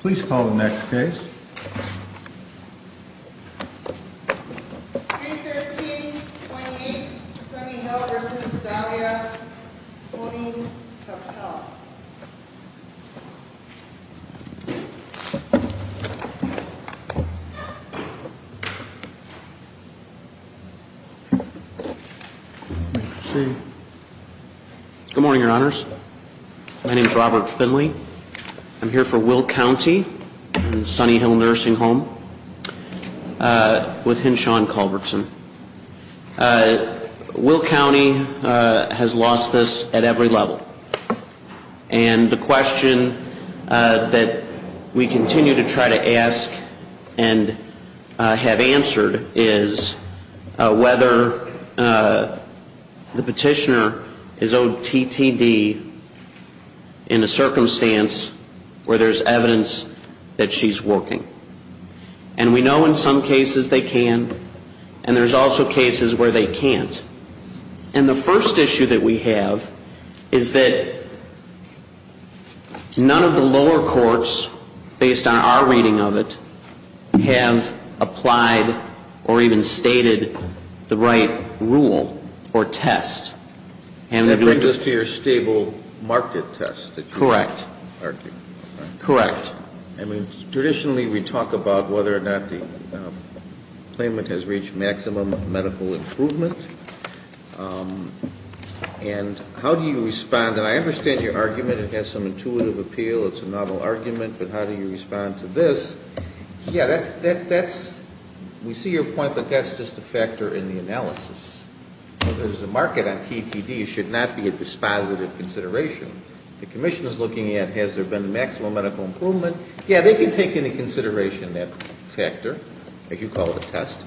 Please call the next case. Good morning, your honors. My name is Robert Finley. I'm here for Will County and Sunny Hill Nursing Home with Henshaw and Culbertson. Will County has lost this at every level. And the question that we continue to try to ask and have answered is whether the petitioner is OTTD in a circumstance where there's evidence that she's working. And we know in some cases they can, and there's also cases where they can't. And the first issue that we have is that none of the lower courts, based on our reading of it, have applied or even stated the right rule or test. And that brings us to your stable market test that you were arguing. Correct. I mean, traditionally we talk about whether or not the claimant has reached maximum medical improvement. And how do you respond? And I understand your argument. It has some intuitive appeal. It's a novel argument. But how do you respond to this? Yeah, that's, that's, that's, we see your point, but that's just a factor in the analysis. Whether there's a market on TTD should not be a dispositive consideration. The maximum medical improvement, yeah, they can take into consideration that factor, if you call it a test.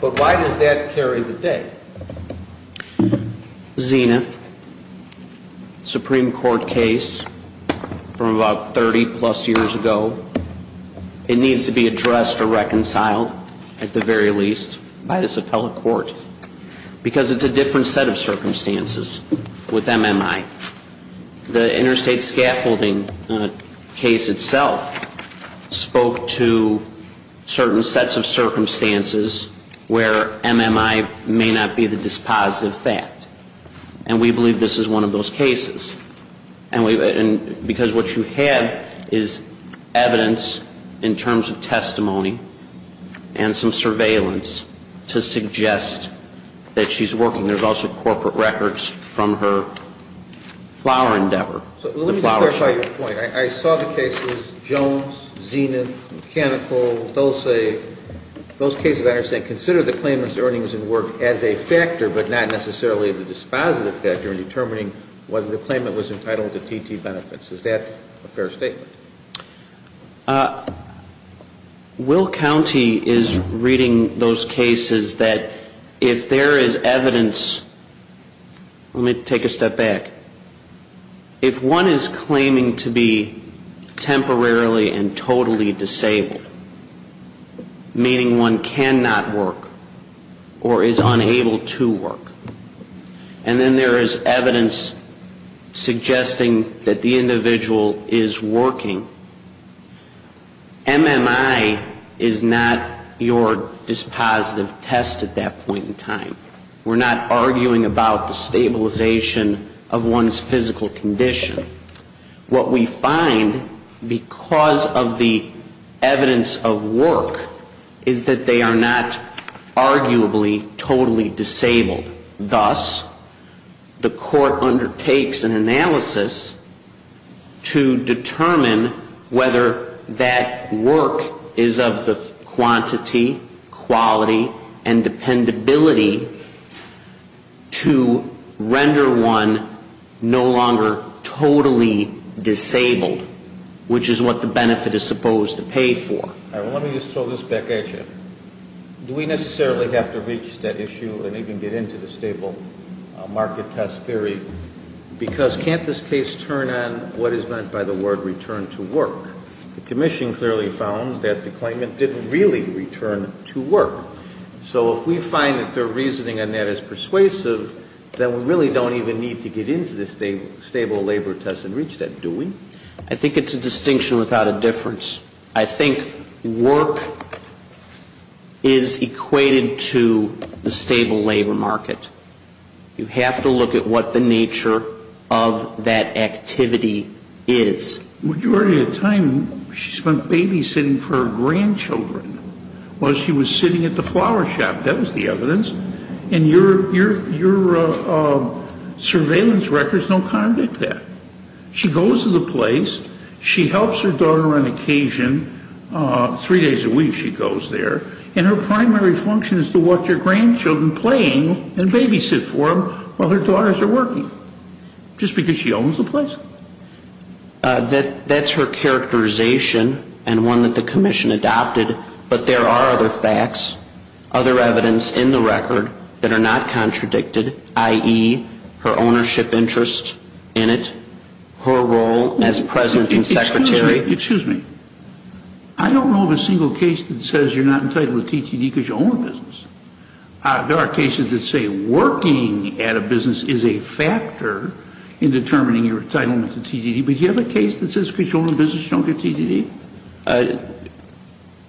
But why does that carry the day? Zenith, Supreme Court case from about 30 plus years ago. It needs to be addressed or reconciled, at the very least, by this appellate court. Because it's a different set of circumstances where MMI may not be the dispositive fact. And we believe this is one of those cases. And we, because what you have is evidence in terms of testimony and some surveillance to suggest that she's working. There's also corporate records from her flower endeavor. Let me clarify your point. I saw the cases, Jones, Zenith, Mechanical, Dulce, those cases I understand, consider the claimant's earnings and work as a factor, but not necessarily the dispositive factor in determining whether the claimant was entitled to TT benefits. Is that a fair statement? Will County is reading those cases that if there is evidence, let me take a step back, if one is claiming to be temporarily and totally disabled, meaning one cannot work or is unable to work, and then there is evidence suggesting that the individual is working, MMI is not your dispositive test at that point in time, arguing about the stabilization of one's physical condition. What we find, because of the evidence of work, is that they are not arguably totally disabled. Thus, the court undertakes an analysis to determine whether that work is of the quantity, quality, and dependability to render one no longer totally disabled, which is what the benefit is supposed to pay for. All right. Well, let me just throw this back at you. Do we necessarily have to reach that issue and even get into the stable market test theory? Because can't this case turn on what is meant by the word return to work? The Commission clearly found that the claimant didn't really return to work. So if we find that their reasoning on that is persuasive, then we really don't even need to get into the stable labor test and reach that, do we? I think it's a distinction without a difference. I think work is equated to the stable labor market. You have to look at what the nature of that activity is. The majority of the time she spent babysitting for her grandchildren while she was sitting at the flower shop. That was the evidence. And your surveillance records don't contradict that. She goes to the place. She helps her daughter on occasion. Three days a week she goes there. And her primary function is to watch her grandchildren playing and babysit for them while their daughters are working, just because she owns the place. That's her characterization and one that the Commission adopted. But there are other facts, other evidence in the record that are not contradicted, i.e., her ownership interest in it, her role as President and Secretary. Excuse me. I don't know of a single case that says you're not entitled to TTD because you own a business. There are cases that say working at a business is not an entitlement to TTD. But do you have a case that says because you own a business, you don't get TTD?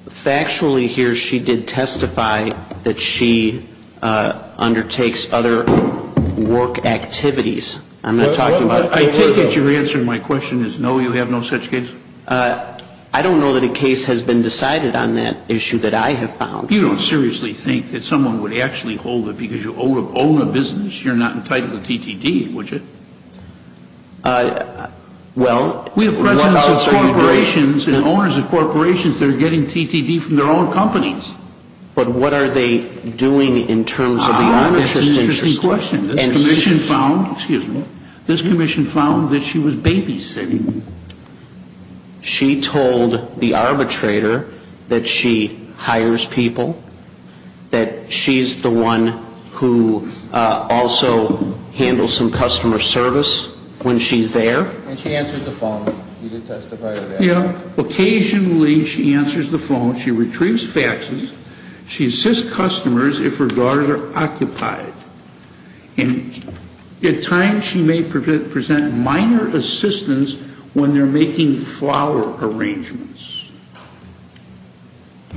Factually, here, she did testify that she undertakes other work activities. I'm not talking about TTD. I take it your answer to my question is no, you have no such case? I don't know that a case has been decided on that issue that I have found. You don't seriously think that someone would actually hold it because you own a business? You're not entitled to TTD, would you? Well, what else are you doing? We have Presidents of corporations and owners of corporations that are getting TTD from their own companies. But what are they doing in terms of the owner's interest? That's an interesting question. This Commission found, excuse me, this Commission found that she was babysitting. She told the arbitrator that she hires people, that she's the one who also handles some customer service when she's there. And she answered the phone. You did testify to that. Yeah. Occasionally, she answers the phone. She retrieves faxes. She assists customers if her guards are occupied. And at times, she may present minor assistance when they're making flower arrangements,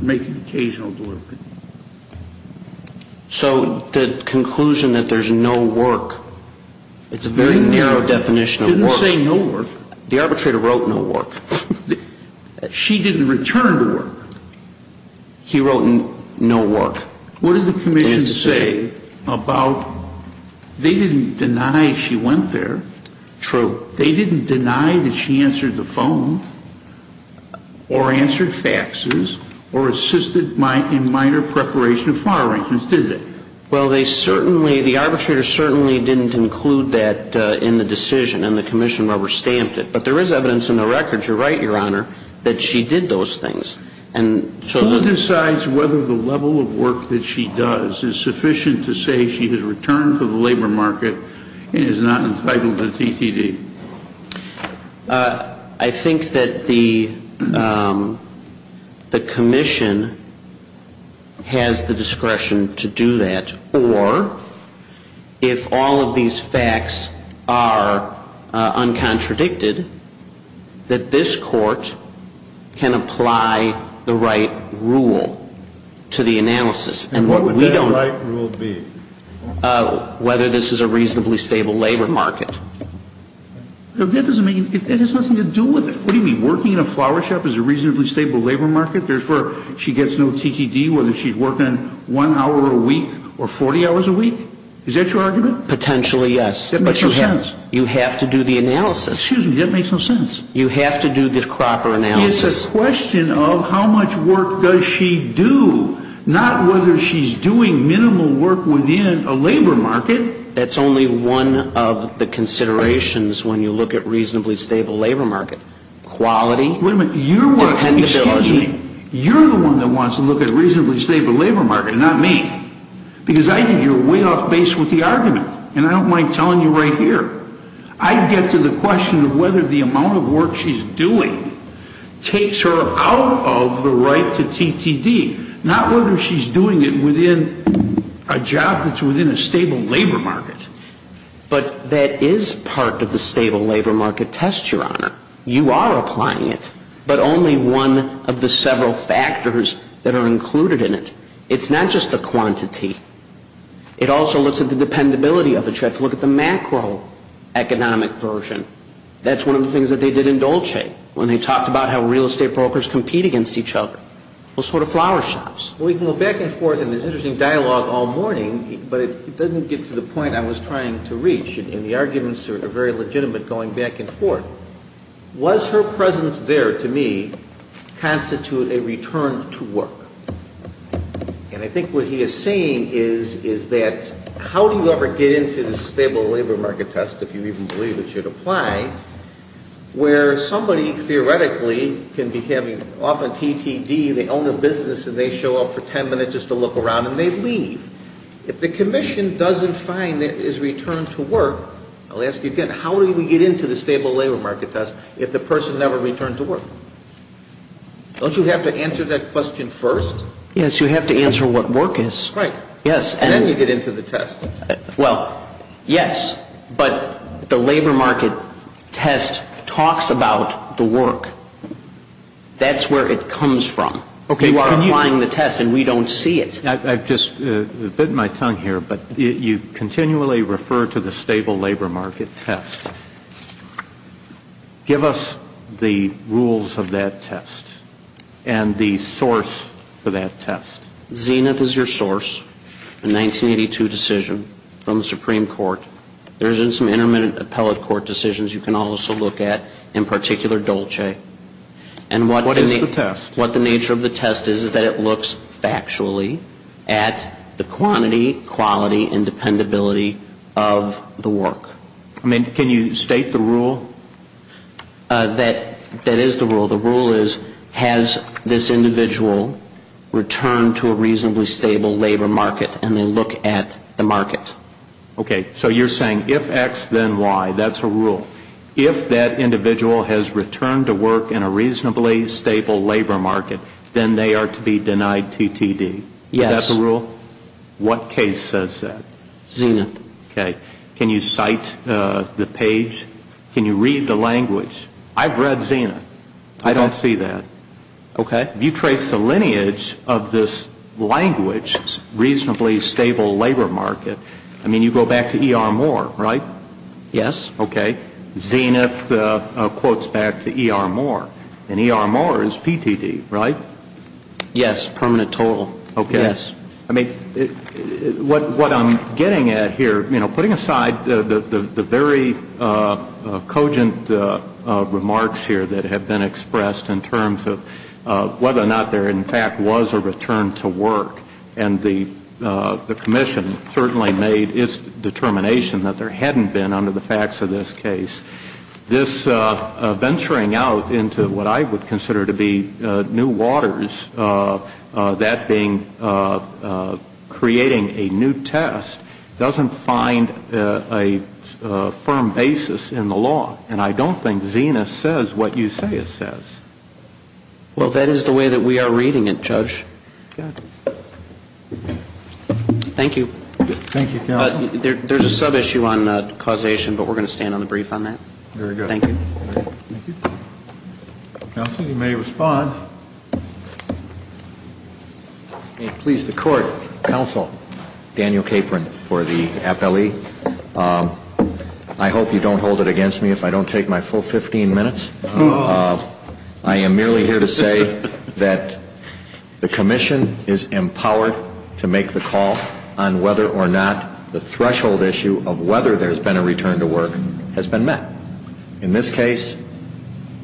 making occasional deliveries. So the conclusion that there's no work, it's a very narrow definition of work. It didn't say no work. The arbitrator wrote no work. She didn't return to work. He wrote no work. What did the Commission say about, they didn't deny she went there. True. But they didn't deny that she answered the phone, or answered faxes, or assisted in minor preparation of flower arrangements, did they? Well, they certainly, the arbitrator certainly didn't include that in the decision, and the Commission rubber-stamped it. But there is evidence in the records, you're right, Your Honor, that she did those things. Who decides whether the level of work that she does is sufficient to say she has returned to the labor market and is not entitled to TCD? I think that the Commission has the discretion to do that. Or if all of these facts are uncontradicted, that this Court can apply the right rule to the analysis. And what would that right rule be? Whether this is a reasonably stable labor market. That has nothing to do with it. What do you mean, working in a flower shop is a reasonably stable labor market? She gets no TCD whether she's working one hour a week or 40 hours a week? Is that your argument? Potentially, yes. That makes no sense. You have to do the analysis. Excuse me, that makes no sense. You have to do the proper analysis. It's a question of how much work does she do, not whether she's doing minimal work within a labor market. That's only one of the considerations when you look at reasonably stable labor market, quality, dependability. You're the one that wants to look at a reasonably stable labor market, not me. Because I think you're way off base with the argument. And I don't mind telling you right here. I get to the question of whether the amount of work she's doing takes her out of the right to TTD. Not whether she's doing it within a job that's within a stable labor market. But that is part of the stable labor market test, Your Honor. You are applying it. But only one of the several factors that are included in it. It's not just the quantity. It also looks at the dependability of it. If you look at the macroeconomic version, that's one of the things that they did in Dolce. When they talked about how real estate brokers compete against each other, those sort of flower shops. We can go back and forth in this interesting dialogue all morning, but it doesn't get to the point I was trying to reach. And the arguments are very legitimate going back and forth. Was her presence there, to me, constitute a return to work? And I think what he is saying is that how do you ever get into the stable labor market test, if you even believe it should apply, where somebody theoretically can be having, often TTD, they own a business and they show up for ten minutes just to look around and they leave. If the commission doesn't find that it is return to work, I'll ask you again, how do we get into the stable labor market test if the person never returned to work? Don't you have to answer that question first? Yes. You have to answer what work is. Right. Yes. And then you get into the test. Well, yes. But the labor market test talks about the work. That's where it comes from. Okay. You are applying the test and we don't see it. I've just bitten my tongue here, but you continually refer to the stable labor market test. Give us the rules of that test and the source for that test. Zenith is your source, a 1982 decision from the Supreme Court. There is some intermittent appellate court decisions you can also look at, in particular Dolce. What is the test? What the nature of the test is is that it looks factually at the quantity, quality, and dependability of the work. I mean, can you state the rule? That is the rule. The rule is has this individual returned to a reasonably stable labor market, and they look at the market. Okay. So you're saying if X, then Y. That's a rule. If that individual has returned to work in a reasonably stable labor market, then they are to be denied TTD. Yes. Is that the rule? What case says that? Zenith. Okay. Can you cite the page? Can you read the language? I've read Zenith. I don't see that. Okay. If you trace the lineage of this language, reasonably stable labor market, I mean, you go back to ER Moore, right? Yes. Okay. Zenith quotes back to ER Moore, and ER Moore is PTD, right? Yes, permanent total. Okay. Yes. I mean, what I'm getting at here, you know, putting aside the very cogent remarks here that have been expressed in terms of whether or not there, in fact, was a return to work, and the commission certainly made its determination that there hadn't been under the facts of this case, this venturing out into what I would consider to be new waters, that being creating a new test, doesn't find a firm basis in the law. And I don't think Zenith says what you say it says. Well, that is the way that we are reading it, Judge. Thank you. Thank you, counsel. There's a sub-issue on causation, but we're going to stand on the brief on that. Very good. Thank you. Thank you. Counsel, you may respond. May it please the Court, Counsel Daniel Capron for the FLE. I hope you don't hold it against me if I don't take my full 15 minutes. I am merely here to say that the commission is empowered to make the call on whether or not the threshold issue of whether there's been a return to work has been met. In this case,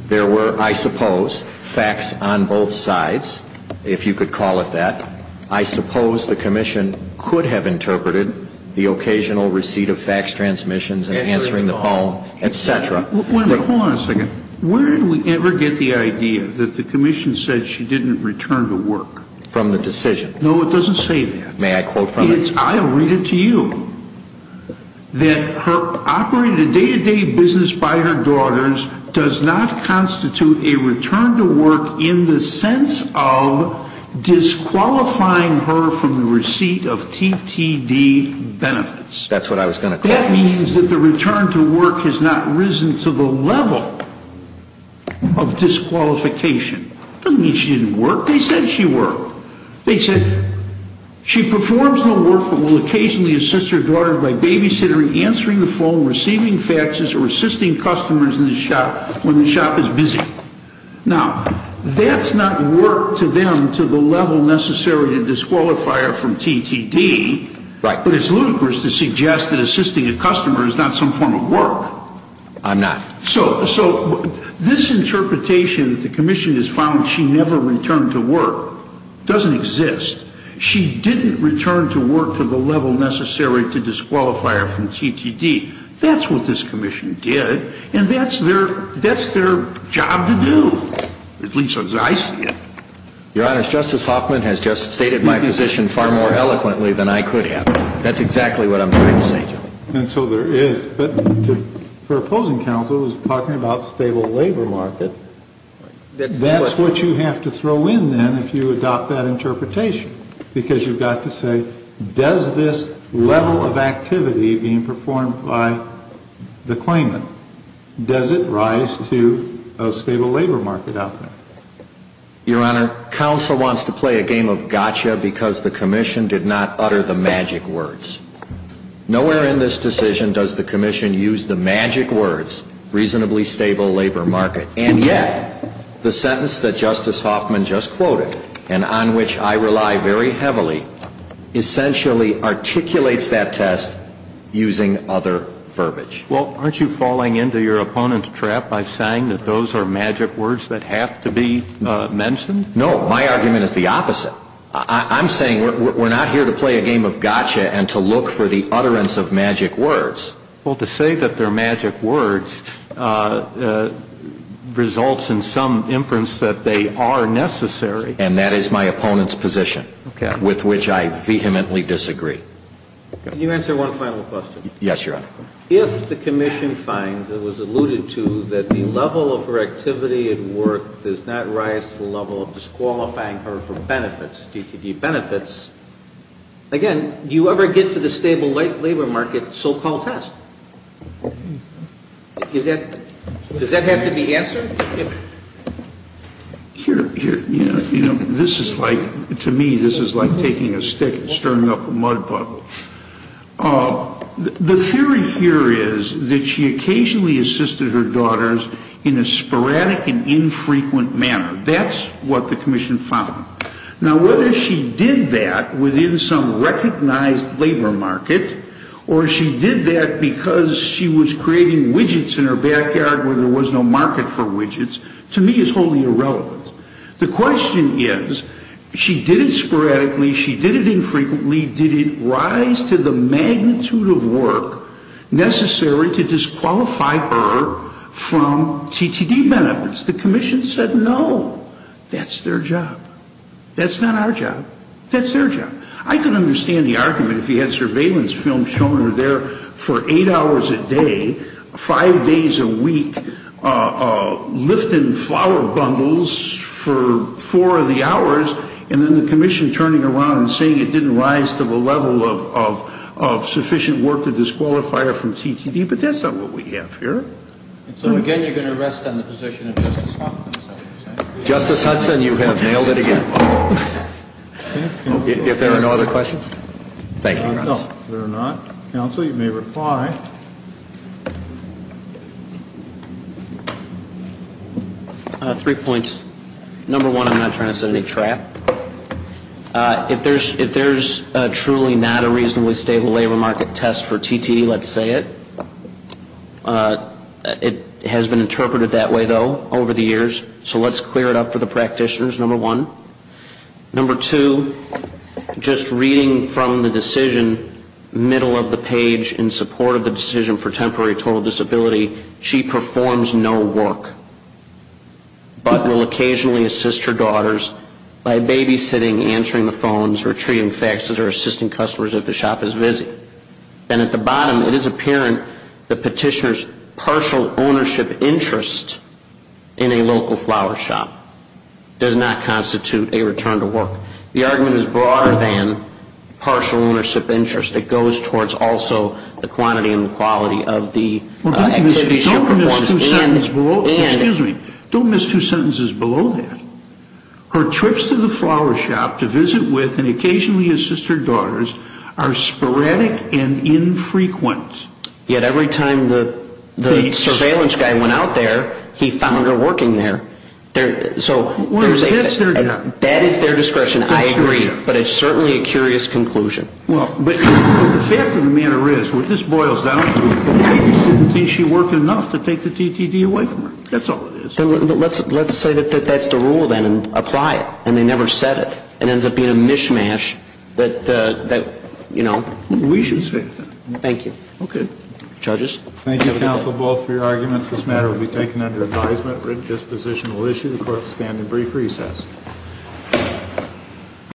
there were, I suppose, facts on both sides, if you could call it that. I suppose the commission could have interpreted the occasional receipt of fax transmissions and answering the phone, et cetera. Wait a minute. Hold on a second. Where did we ever get the idea that the commission said she didn't return to work? From the decision. No, it doesn't say that. May I quote from it? I'll read it to you. That her operated day-to-day business by her daughters does not constitute a return to work in the sense of disqualifying her from the receipt of TTD benefits. That's what I was going to quote. That means that the return to work has not risen to the level of disqualification. It doesn't mean she didn't work. They said she worked. They said she performs no work but will occasionally assist her daughter by babysitting, answering the phone, receiving faxes, or assisting customers in the shop when the shop is busy. Now, that's not work to them to the level necessary to disqualify her from TTD, but it's ludicrous to suggest that assisting a customer is not some form of work. I'm not. So this interpretation that the commission has found she never returned to work doesn't exist. She didn't return to work to the level necessary to disqualify her from TTD. That's what this commission did, and that's their job to do, at least as I see it. Your Honor, Justice Hoffman has just stated my position far more eloquently than I could have. That's exactly what I'm trying to say. And so there is. But for opposing counsel, he was talking about stable labor market. That's what you have to throw in then if you adopt that interpretation, because you've got to say, does this level of activity being performed by the claimant, does it rise to a stable labor market out there? Your Honor, counsel wants to play a game of gotcha because the commission did not utter the magic words. Nowhere in this decision does the commission use the magic words, reasonably stable labor market. And yet, the sentence that Justice Hoffman just quoted, and on which I rely very heavily, essentially articulates that test using other verbiage. Well, aren't you falling into your opponent's trap by saying that those are magic words that have to be mentioned? No. My argument is the opposite. I'm saying we're not here to play a game of gotcha and to look for the utterance of magic words. Well, to say that they're magic words results in some inference that they are necessary. And that is my opponent's position. Okay. With which I vehemently disagree. Can you answer one final question? Yes, Your Honor. If the commission finds, as was alluded to, that the level of her activity at work does not rise to the level of disqualifying her for benefits, DTD benefits, again, do you ever get to the stable labor market so-called test? Does that have to be answered? Here, you know, this is like, to me, this is like taking a stick and stirring up a mud pot. The theory here is that she occasionally assisted her daughters in a sporadic and infrequent manner. That's what the commission found. Now, whether she did that within some recognized labor market or she did that because she was creating widgets in her backyard where there was no market for widgets, to me is wholly irrelevant. The question is, she did it sporadically, she did it infrequently, did it rise to the magnitude of work necessary to disqualify her from DTD benefits? The commission said no. That's their job. That's not our job. That's their job. I can understand the argument if you had surveillance film showing her there for eight hours a day, five days a week, lifting flower bundles for four of the hours, and then the commission turning around and saying it didn't rise to the level of sufficient work to disqualify her from DTD. But that's not what we have here. And so, again, you're going to rest on the position of Justice Hudson. Justice Hudson, you have nailed it again. If there are no other questions? Thank you, Your Honor. No, there are not. Counsel, you may reply. Three points. Number one, I'm not trying to set any trap. If there's truly not a reasonably stable labor market test for TTD, let's say it. It has been interpreted that way, though, over the years. So let's clear it up for the practitioners, number one. Number two, just reading from the decision, middle of the page, in support of the decision for temporary total disability, she performs no work, but will occasionally assist her daughters by babysitting, answering the phones, retrieving faxes, or assisting customers if the shop is busy. And at the bottom, it is apparent the petitioner's partial ownership interest in a local flower shop does not constitute a return to work. The argument is broader than partial ownership interest. It goes towards also the quantity and quality of the activities she performs. Don't miss two sentences below that. Her trips to the flower shop to visit with and occasionally assist her daughters are sporadic and infrequent. Yet every time the surveillance guy went out there, he found her working there. So there's a fit. That is their discretion. I agree. But it's certainly a curious conclusion. Well, but the fact of the matter is, what this boils down to is she worked enough to take the TTD away from her. That's all it is. Let's say that that's the rule, then, and apply it. And they never said it. It ends up being a mishmash that, you know. We should say that. Thank you. Okay. Judges? Thank you, counsel, both, for your arguments. This matter will be taken under advisement. Red disposition will issue. The court will stand in brief recess.